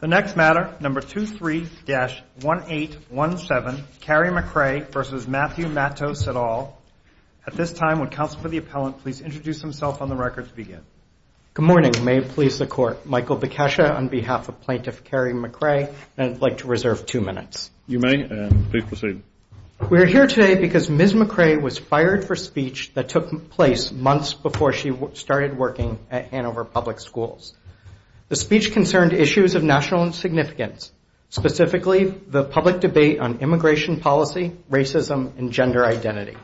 The next matter, number 23-1817, Carrie MacRae v. Matthew Mattos et al. At this time, would counsel for the appellant please introduce himself on the record to begin? Good morning. May it please the Court? Michael Bekesha on behalf of Plaintiff Carrie MacRae, and I'd like to reserve two minutes. You may, and please proceed. We are here today because Ms. MacRae was fired for speech that took place months before she started working at Hanover Public Schools. The speech concerned issues of national significance, specifically the public debate on immigration policy, racism, and gender identity.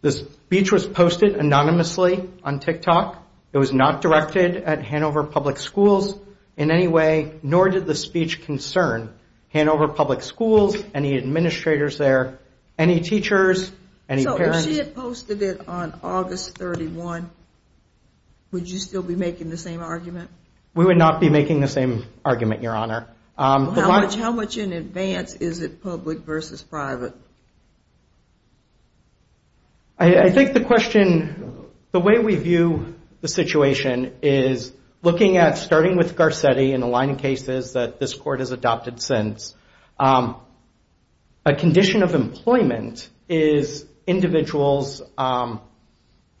The speech was posted anonymously on TikTok. It was not directed at Hanover Public Schools in any way, nor did the speech concern Hanover Public Schools, any administrators there, any teachers, any parents. If she had posted it on August 31, would you still be making the same argument? We would not be making the same argument, Your Honor. How much in advance is it public versus private? I think the question, the way we view the situation is looking at, starting with Garcetti and the line of cases that this Court has adopted since, a condition of employment is individuals having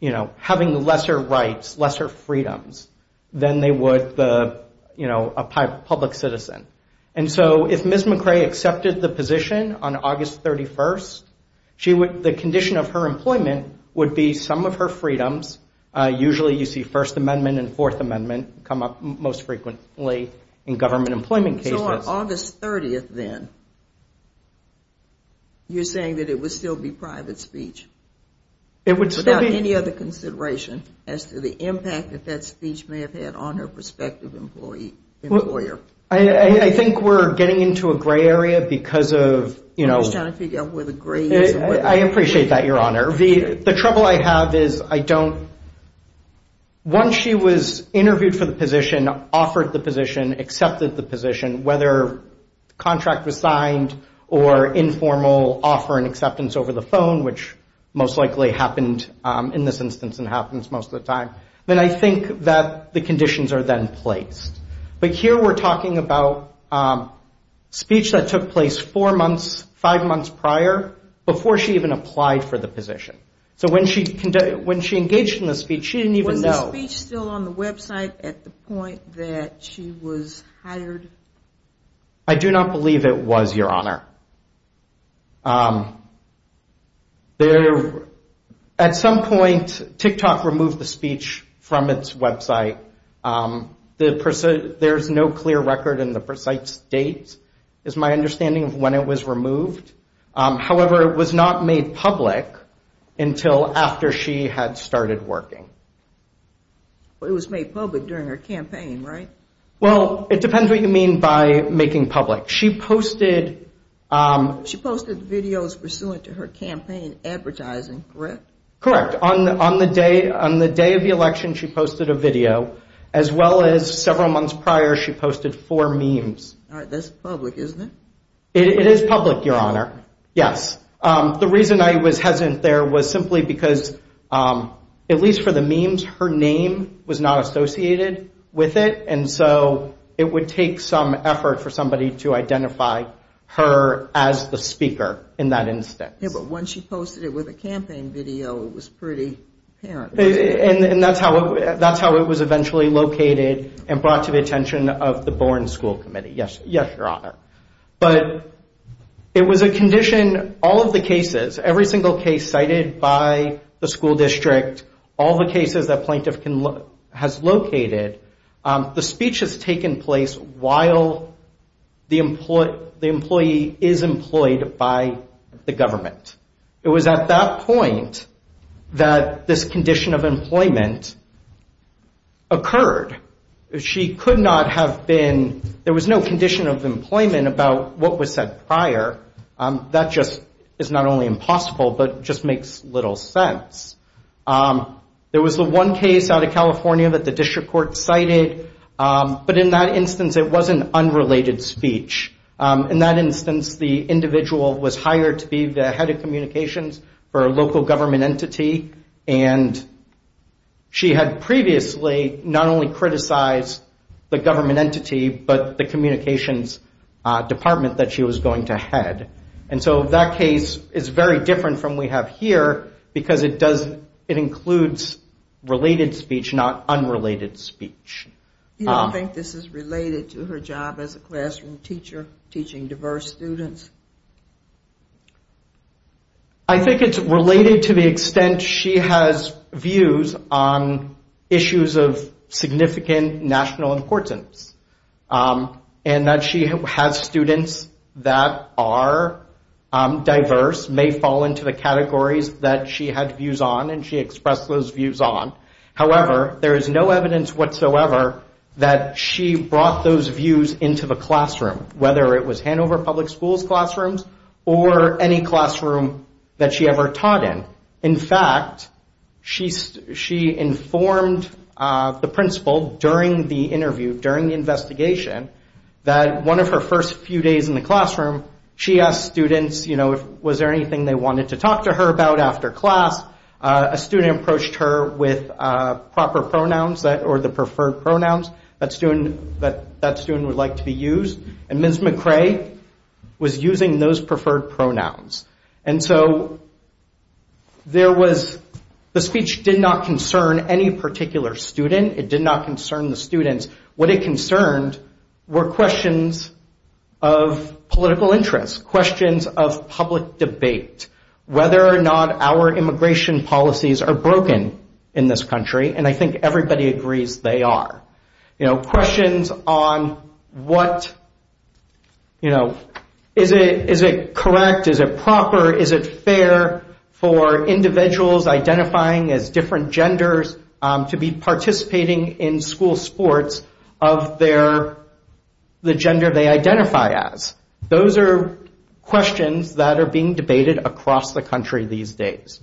lesser rights, lesser freedoms than they would a public citizen. And so if Ms. MacRae accepted the position on August 31, the condition of her employment would be some of her freedoms. Usually you see First Amendment and Fourth Amendment come up most frequently in government employment cases. On August 30, then, you're saying that it would still be private speech without any other consideration as to the impact that that speech may have had on her prospective employer. I think we're getting into a gray area because of, you know. I'm just trying to figure out where the gray is. I appreciate that, Your Honor. The trouble I have is I don't, once she was interviewed for the position, offered the position, accepted the position, whether contract was signed or informal offer and acceptance over the phone, which most likely happened in this instance and happens most of the time, then I think that the conditions are then placed. But here we're talking about speech that took place four months, five months prior before she even applied for the position. So when she engaged in the speech, she didn't even know. Was the speech still on the website at the point that she was hired? I do not believe it was, Your Honor. At some point, TikTok removed the speech from its website. There's no clear record and the precise date is my understanding of when it was removed. However, it was not made public until after she had started working. It was made public during her campaign, right? Well, it depends what you mean by making public. She posted videos pursuant to her campaign advertising, correct? Correct. On the day of the election, she posted a video, as well as several months prior, she posted four memes. That's public, isn't it? It is public, Your Honor. Yes. The reason I was hesitant there was simply because, at least for the memes, her name was not associated with it, and so it would take some effort for somebody to identify her as the speaker in that instance. But once she posted it with a campaign video, it was pretty apparent. And that's how it was eventually located and brought to the attention of the Boren School Committee. Yes, Your Honor. But it was a condition, all of the cases, every single case cited by the school district, all the cases that plaintiff has located, the speech has taken place while the employee is employed by the government. It was at that point that this condition of employment occurred. She could not have been, there was no condition of employment about what was said prior. That just is not only impossible, but just makes little sense. There was the one case out of California that the district court cited, but in that instance it was an unrelated speech. In that instance, the individual was hired to be the head of communications for a local government entity, and she had previously not only criticized the government entity, but the communications department that she was going to head. And so that case is very different from what we have here, because it includes related speech, not unrelated speech. You don't think this is related to her job as a classroom teacher, teaching diverse students? I think it's related to the extent she has views on issues of significant national importance, and that she has students that are diverse, may fall into the categories that she had views on, and she expressed those views on. However, there is no evidence whatsoever that she brought those views into the classroom, whether it was Hanover Public Schools classrooms or any classroom that she ever taught in. In fact, she informed the principal during the interview, during the investigation, that one of her first few days in the classroom, she asked students, you know, was there anything they wanted to talk to her about after class? A student approached her with proper pronouns or the preferred pronouns that student would like to be used, and Ms. McRae was using those preferred pronouns. And so there was, the speech did not concern any particular student. It did not concern the students. What it concerned were questions of political interest, questions of public debate, whether or not our immigration policies are broken in this country, and I think everybody agrees they are. You know, questions on what, you know, is it correct, is it proper, is it fair for individuals identifying as different genders to be participating in school sports of their, the gender they identify as. Those are questions that are being debated across the country these days.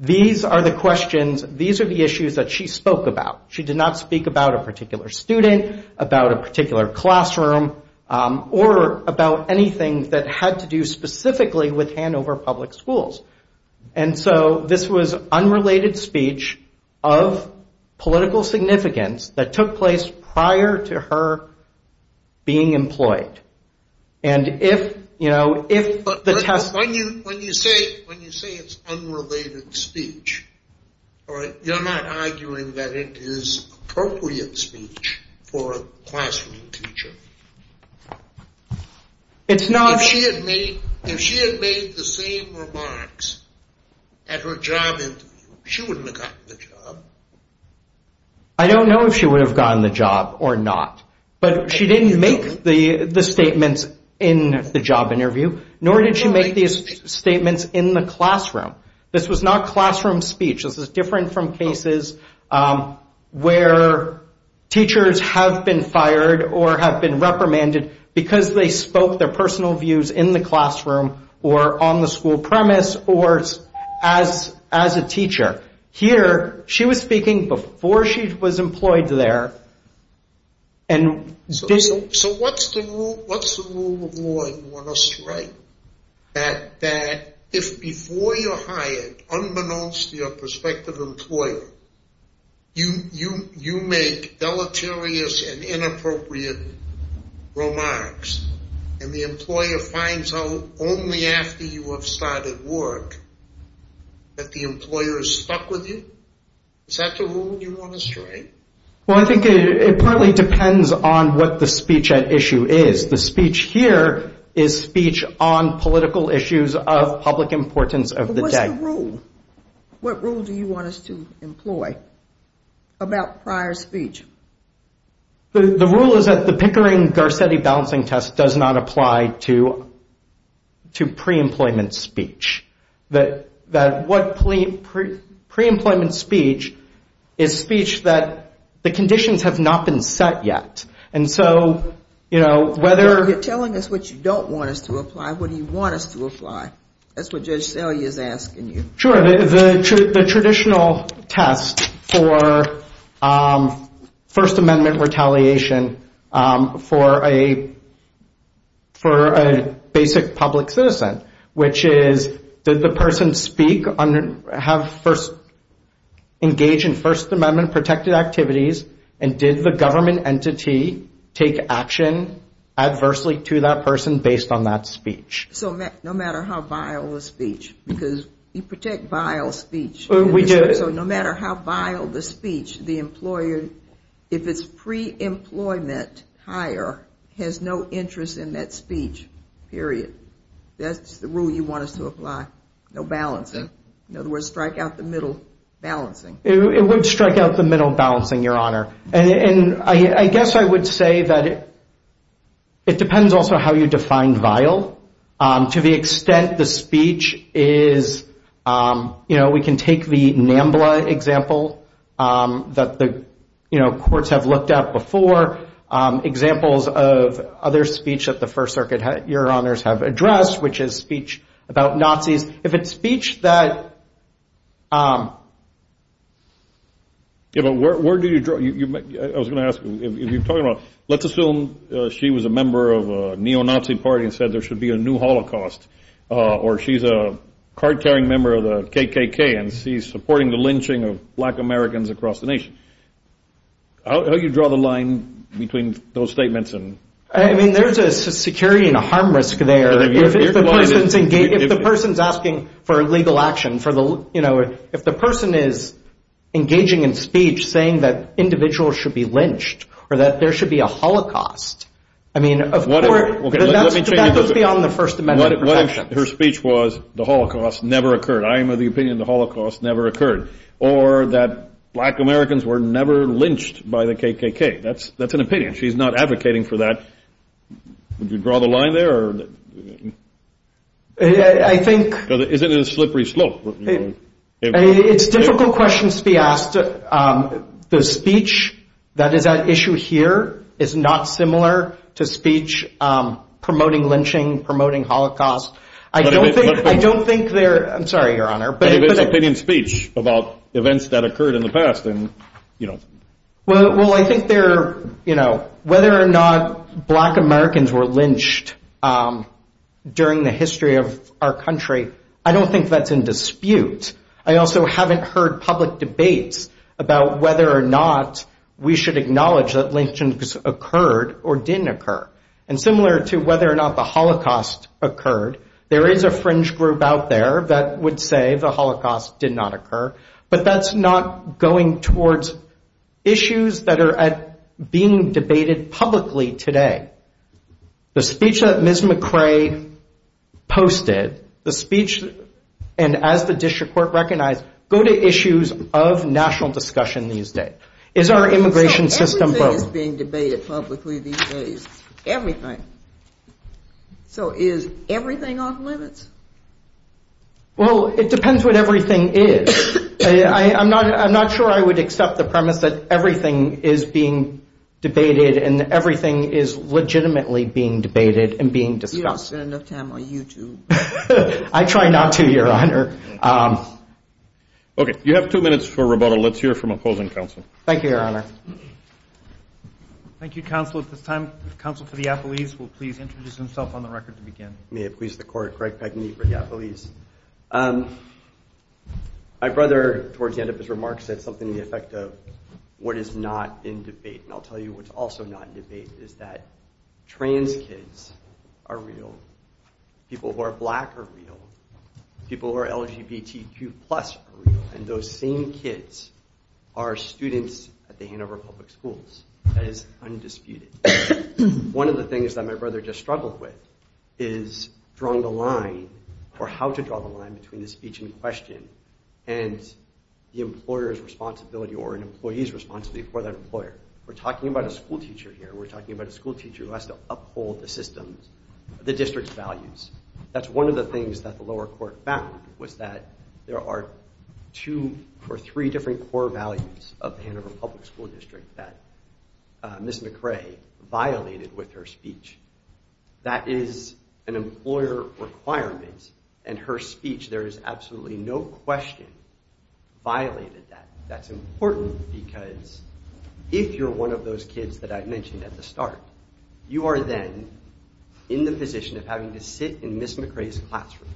These are the questions, these are the issues that she spoke about. She did not speak about a particular student, about a particular classroom, or about anything that had to do specifically with Hanover Public Schools. And so this was unrelated speech of political significance that took place prior to her being employed. And if, you know, if the test. When you say it's unrelated speech, you're not arguing that it is appropriate speech for a classroom teacher? It's not. If she had made the same remarks at her job interview, she wouldn't have gotten the job. I don't know if she would have gotten the job or not, but she didn't make the statements in the job interview, nor did she make these statements in the classroom. This was not classroom speech. This is different from cases where teachers have been fired or have been reprimanded because they spoke their personal views in the classroom or on the school premise or as a teacher. Here, she was speaking before she was employed there. So what's the rule of law you want us to write? That if before you're hired, unbeknownst to your prospective employer, you make deleterious and inappropriate remarks, and the employer finds out only after you have started work that the employer is stuck with you? Is that the rule you want us to write? Well, I think it partly depends on what the speech at issue is. The speech here is speech on political issues of public importance of the day. What's the rule? What rule do you want us to employ about prior speech? The rule is that the Pickering-Garcetti balancing test does not apply to pre-employment speech. That what pre-employment speech is speech that the conditions have not been set yet. And so, you know, whether- You're telling us what you don't want us to apply. What do you want us to apply? That's what Judge Selye is asking you. Sure. The traditional test for First Amendment retaliation for a basic public citizen, which is did the person speak, engage in First Amendment-protected activities, and did the government entity take action adversely to that person based on that speech? So no matter how vile the speech, because you protect vile speech. We do. So no matter how vile the speech, the employer, if it's pre-employment hire, has no interest in that speech, period. That's the rule you want us to apply. No balancing. In other words, strike out the middle balancing. It would strike out the middle balancing, Your Honor. And I guess I would say that it depends also how you define vile. To the extent the speech is, you know, we can take the NAMBLA example that the courts have looked at before, examples of other speech that the First Circuit, Your Honors, have addressed, which is speech about Nazis. If it's speech that – Yeah, but where do you draw – I was going to ask, if you're talking about, let's assume she was a member of a neo-Nazi party and said there should be a new Holocaust, or she's a card-carrying member of the KKK and she's supporting the lynching of black Americans across the nation. How do you draw the line between those statements and – I mean, there's a security and a harm risk there. If the person's asking for legal action, for the – you know, if the person is engaging in speech saying that individuals should be lynched or that there should be a Holocaust, I mean, of course, that goes beyond the First Amendment protections. Her speech was the Holocaust never occurred. I am of the opinion the Holocaust never occurred, or that black Americans were never lynched by the KKK. That's an opinion. She's not advocating for that. Would you draw the line there? I think – Because it isn't a slippery slope. It's difficult questions to be asked. The speech that is at issue here is not similar to speech promoting lynching, promoting Holocaust. I don't think they're – I'm sorry, Your Honor. But if it's opinion speech about events that occurred in the past, then, you know – Well, I think they're – you know, whether or not black Americans were lynched during the history of our country, I don't think that's in dispute. I also haven't heard public debates about whether or not we should acknowledge that lynchings occurred or didn't occur. And similar to whether or not the Holocaust occurred, there is a fringe group out there that would say the Holocaust did not occur. But that's not going towards issues that are being debated publicly today. The speech that Ms. McRae posted, the speech – and as the district court recognized, go to issues of national discussion these days. Is our immigration system – So everything is being debated publicly these days. Everything. So is everything off limits? Well, it depends what everything is. I'm not sure I would accept the premise that everything is being debated and everything is legitimately being debated and being discussed. You don't spend enough time on YouTube. I try not to, Your Honor. Okay, you have two minutes for rebuttal. Let's hear from opposing counsel. Thank you, Your Honor. Thank you, counsel. At this time, the counsel for the appellees will please introduce himself on the record to begin. May it please the court, Craig Pegney for the appellees. My brother, towards the end of his remarks, said something to the effect of what is not in debate. And I'll tell you what's also not in debate is that trans kids are real. People who are black are real. People who are LGBTQ plus are real. And those same kids are students at the Hanover Public Schools. That is undisputed. One of the things that my brother just struggled with is drawing the line or how to draw the line between the speech in question and the employer's responsibility or an employee's responsibility for that employer. We're talking about a schoolteacher here. We're talking about a schoolteacher who has to uphold the district's values. That's one of the things that the lower court found, was that there are two or three different core values of the Hanover Public School District that Ms. McRae violated with her speech. That is an employer requirement, and her speech, there is absolutely no question, violated that. That's important because if you're one of those kids that I mentioned at the start, you are then in the position of having to sit in Ms. McRae's classroom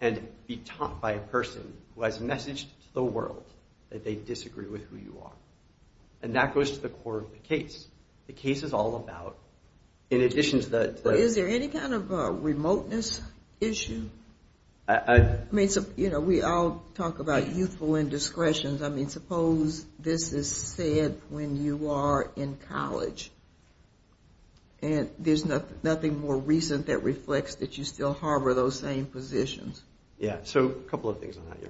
and be taught by a person who has messaged to the world that they disagree with who you are. And that goes to the core of the case. The case is all about, in addition to the... Is there any kind of remoteness issue? I mean, we all talk about youthful indiscretions. I mean, suppose this is said when you are in college and there's nothing more recent that reflects that you still harbor those same positions. Yeah, so a couple of things on that, yeah.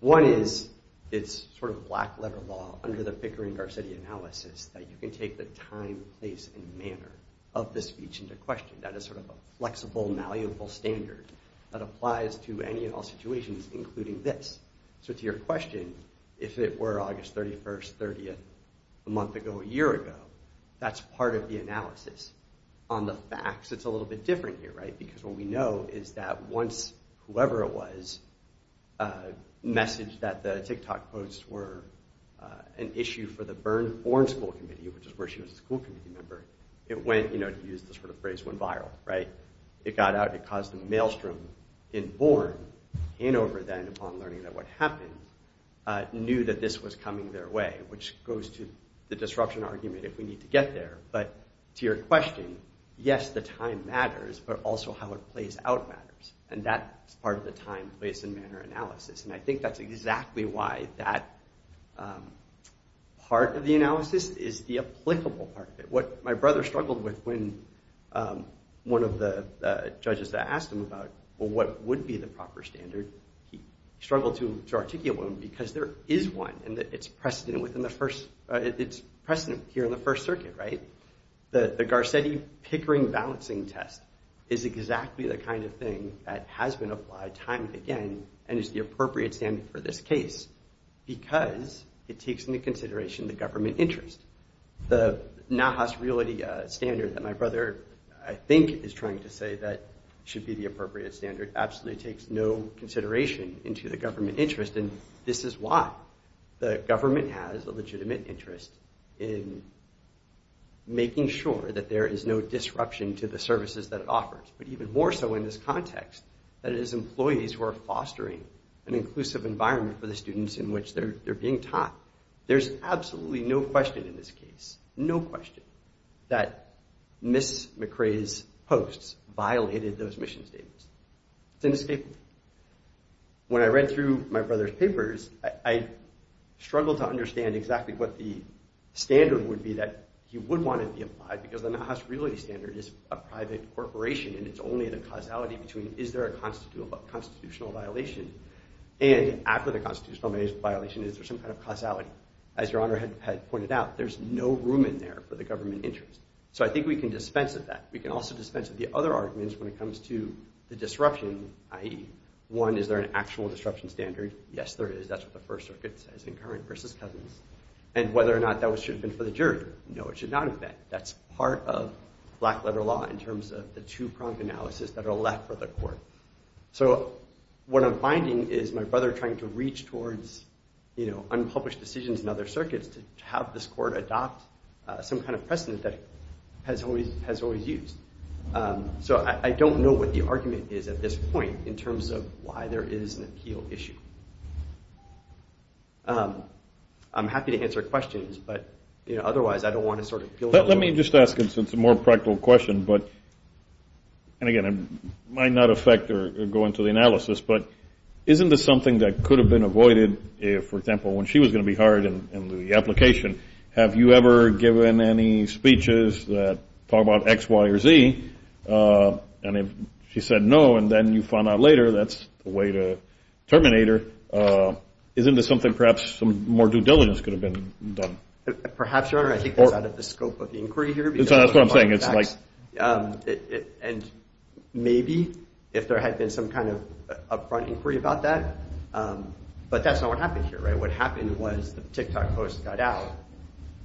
One is, it's sort of black-letter law under the Pickering-Garcetti analysis that you can take the time, place, and manner of the speech into question. That is sort of a flexible, malleable standard that applies to any and all situations, including this. So to your question, if it were August 31st, 30th, a month ago, a year ago, that's part of the analysis. On the facts, it's a little bit different here, right? Because what we know is that once whoever it was messaged that the TikTok posts were an issue for the Bern-Born School Committee, which is where she was a school committee member, it went, you know, to use the sort of phrase, went viral, right? It got out, it caused a maelstrom in Born. And Hanover then, upon learning that what happened, knew that this was coming their way, which goes to the disruption argument, if we need to get there. But to your question, yes, the time matters, but also how it plays out matters. And that's part of the time, place, and manner analysis. And I think that's exactly why that part of the analysis is the applicable part of it. What my brother struggled with when one of the judges asked him about, well, what would be the proper standard, he struggled to articulate one, because there is one, and it's precedent here in the First Circuit, right? The Garcetti Pickering Balancing Test is exactly the kind of thing that has been applied time and again, and is the appropriate standard for this case, because it takes into consideration the government interest. The Nahas Reality Standard that my brother, I think, is trying to say that should be the appropriate standard absolutely takes no consideration into the government interest. And this is why the government has a legitimate interest in making sure that there is no disruption to the services that it offers. But even more so in this context, that it is employees who are fostering an inclusive environment for the students in which they're being taught. There's absolutely no question in this case, no question, that Ms. McRae's posts violated those mission statements. It's inescapable. When I read through my brother's papers, I struggled to understand exactly what the standard would be that he would want to be applied, because the Nahas Reality Standard is a private corporation, and it's only the causality between is there a constitutional violation, and after the constitutional violation, is there some kind of causality? As Your Honor had pointed out, there's no room in there for the government interest. So I think we can dispense with that. We can also dispense with the other arguments when it comes to the disruption, i.e., one, is there an actual disruption standard? Yes, there is. That's what the First Circuit says in current versus cousins. And whether or not that should have been for the jury? No, it should not have been. That's part of black-letter law in terms of the two-pronged analysis that are left for the court. So what I'm finding is my brother trying to reach towards unpublished decisions in other circuits to have this court adopt some kind of precedent that it has always used. So I don't know what the argument is at this point in terms of why there is an appeal issue. I'm happy to answer questions, but otherwise, I don't want to sort of build on it. Let me just ask it since it's a more practical question. And, again, it might not affect or go into the analysis, but isn't this something that could have been avoided if, for example, when she was going to be hired in the application, have you ever given any speeches that talk about X, Y, or Z? And if she said no and then you found out later that's the way to terminate her, isn't this something perhaps some more due diligence could have been done? Perhaps, Your Honor. I think that's out of the scope of the inquiry here. That's what I'm saying. And maybe if there had been some kind of upfront inquiry about that, but that's not what happened here. What happened was the TikTok post got out.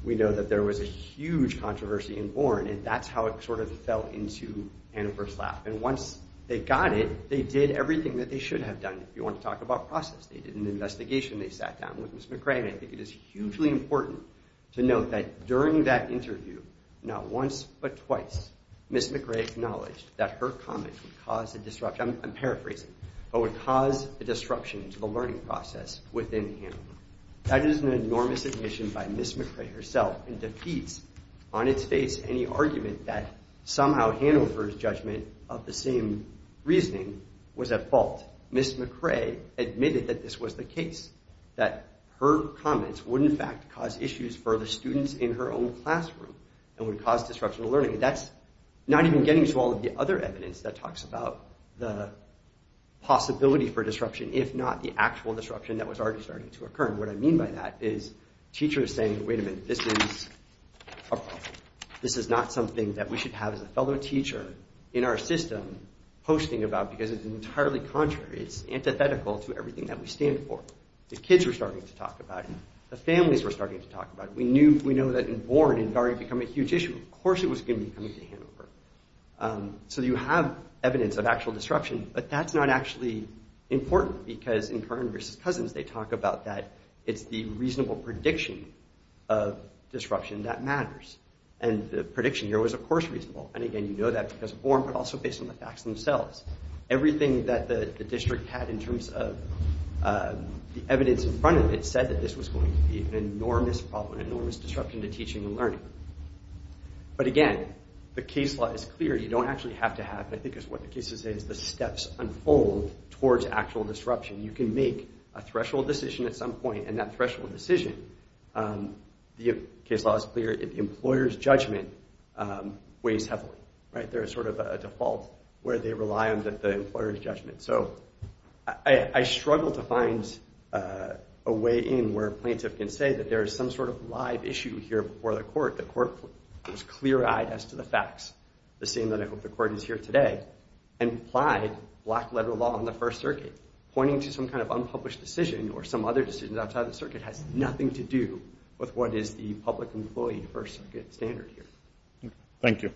We know that there was a huge controversy in Bourne, and that's how it sort of fell into Annenberg's lap. And once they got it, they did everything that they should have done. If you want to talk about process, they did an investigation. They sat down with Ms. McRae, and I think it is hugely important to note that during that interview, not once but twice, Ms. McRae acknowledged that her comments would cause a disruption. I'm paraphrasing. It would cause a disruption to the learning process within Hanover. That is an enormous admission by Ms. McRae herself and defeats on its face any argument that somehow Ms. McRae admitted that this was the case, that her comments would, in fact, cause issues for the students in her own classroom and would cause disruption to learning. That's not even getting to all of the other evidence that talks about the possibility for disruption, if not the actual disruption that was already starting to occur. And what I mean by that is teachers saying, wait a minute, this is not something that we should have as a fellow teacher in our system posting about because it's entirely contrary. It's antithetical to everything that we stand for. The kids were starting to talk about it. The families were starting to talk about it. We know that in Bourne, it had already become a huge issue. Of course it was going to be coming to Hanover. So you have evidence of actual disruption, but that's not actually important because in Courant vs. Cousins, they talk about that it's the reasonable prediction of disruption that matters. And the prediction here was, of course, reasonable. And again, you know that because of Bourne, but also based on the facts themselves. Everything that the district had in terms of the evidence in front of it said that this was going to be an enormous problem, an enormous disruption to teaching and learning. But again, the case law is clear. You don't actually have to have, I think is what the case is saying, is the steps unfold towards actual disruption. You can make a threshold decision at some point, and that threshold decision, the case law is clear, the employer's judgment weighs heavily. There is sort of a default where they rely on the employer's judgment. So I struggle to find a way in where a plaintiff can say that there is some sort of live issue here before the court. The court was clear-eyed as to the facts, the same that I hope the court is here today, and applied black letter law on the First Circuit, pointing to some kind of unpublished decision or some other decision outside the circuit that has nothing to do with what is the public employee First Circuit standard here. Thank you.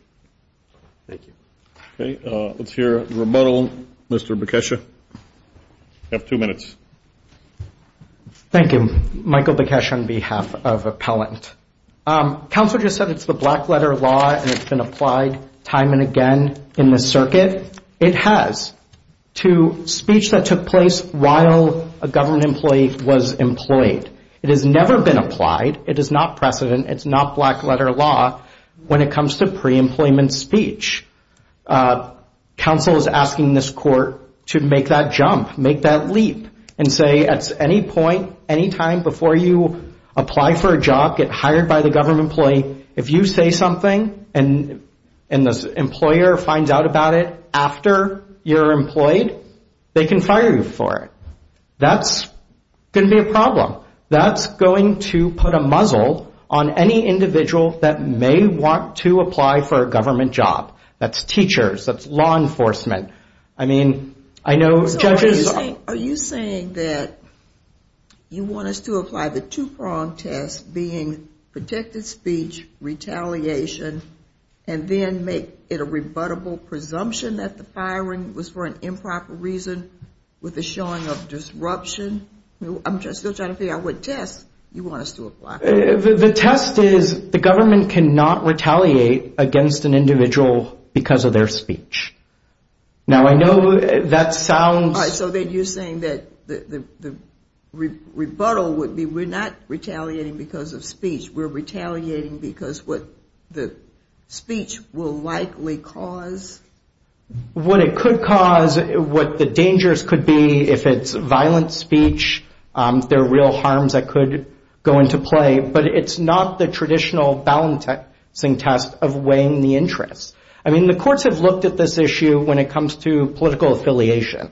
Thank you. Okay, let's hear a rebuttal. Mr. Bekesha, you have two minutes. Thank you. Michael Bekesha on behalf of Appellant. Counsel just said it's the black letter law, and it's been applied time and again in the circuit. It has to speech that took place while a government employee was employed. It has never been applied. It is not precedent. It's not black letter law when it comes to pre-employment speech. Counsel is asking this court to make that jump, make that leap, and say at any point, any time before you apply for a job, get hired by the government employee, if you say something and the employer finds out about it after you're employed, they can fire you for it. That's going to be a problem. That's going to put a muzzle on any individual that may want to apply for a government job. That's teachers. That's law enforcement. I mean, I know judges are— and then make it a rebuttable presumption that the firing was for an improper reason with the showing of disruption. I'm still trying to figure out what test you want us to apply. The test is the government cannot retaliate against an individual because of their speech. Now, I know that sounds— All right, so then you're saying that the rebuttal would be we're not retaliating because of speech. We're retaliating because what the speech will likely cause? What it could cause, what the dangers could be, if it's violent speech, there are real harms that could go into play, but it's not the traditional balancing test of weighing the interests. I mean, the courts have looked at this issue when it comes to political affiliation.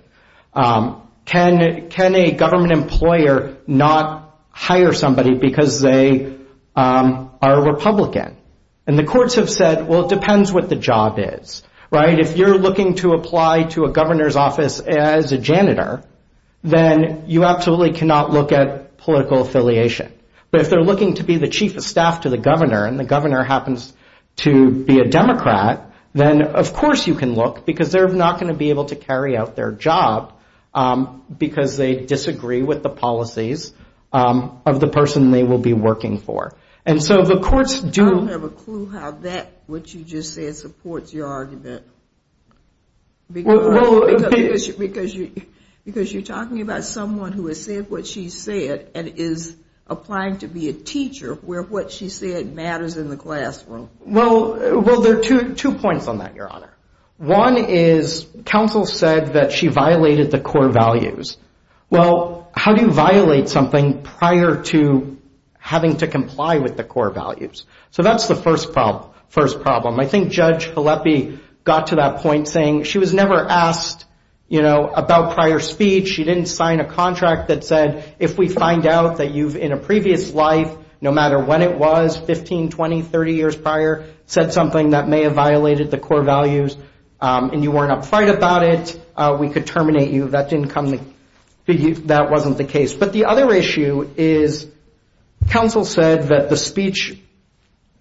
Can a government employer not hire somebody because they are a Republican? And the courts have said, well, it depends what the job is, right? If you're looking to apply to a governor's office as a janitor, then you absolutely cannot look at political affiliation. But if they're looking to be the chief of staff to the governor, and the governor happens to be a Democrat, then of course you can look because they're not going to be able to carry out their job because they disagree with the policies of the person they will be working for. And so the courts do— I don't have a clue how that, what you just said, supports your argument. Because you're talking about someone who has said what she said and is applying to be a teacher, where what she said matters in the classroom. Well, there are two points on that, Your Honor. One is counsel said that she violated the core values. Well, how do you violate something prior to having to comply with the core values? So that's the first problem. I think Judge Halepi got to that point saying she was never asked, you know, about prior speech. She didn't sign a contract that said if we find out that you've, in a previous life, no matter when it was, 15, 20, 30 years prior, said something that may have violated the core values and you weren't upright about it, we could terminate you. That didn't come—that wasn't the case. But the other issue is counsel said that the speech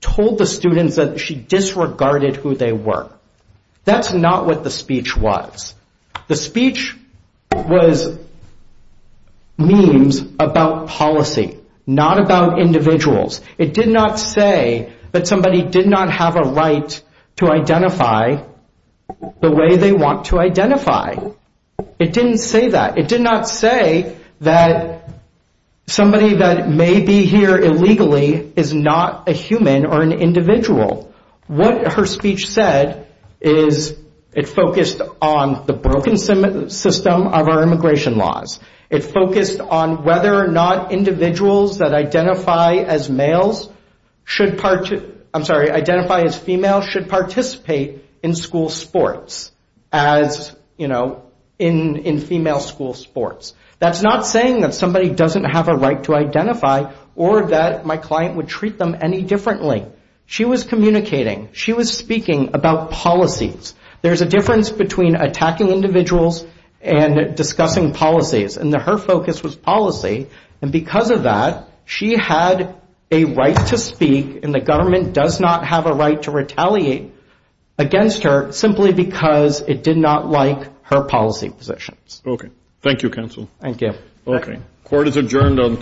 told the students that she disregarded who they were. That's not what the speech was. The speech was memes about policy, not about individuals. It did not say that somebody did not have a right to identify the way they want to identify. It didn't say that. It did not say that somebody that may be here illegally is not a human or an individual. What her speech said is it focused on the broken system of our immigration laws. It focused on whether or not individuals that identify as males should—I'm sorry, identify as females should participate in school sports as, you know, in female school sports. That's not saying that somebody doesn't have a right to identify or that my client would treat them any differently. She was communicating. She was speaking about policies. There's a difference between attacking individuals and discussing policies. And her focus was policy. And because of that, she had a right to speak, and the government does not have a right to retaliate against her simply because it did not like her policy positions. Okay. Thank you, counsel. Thank you. Okay. Court is adjourned on today.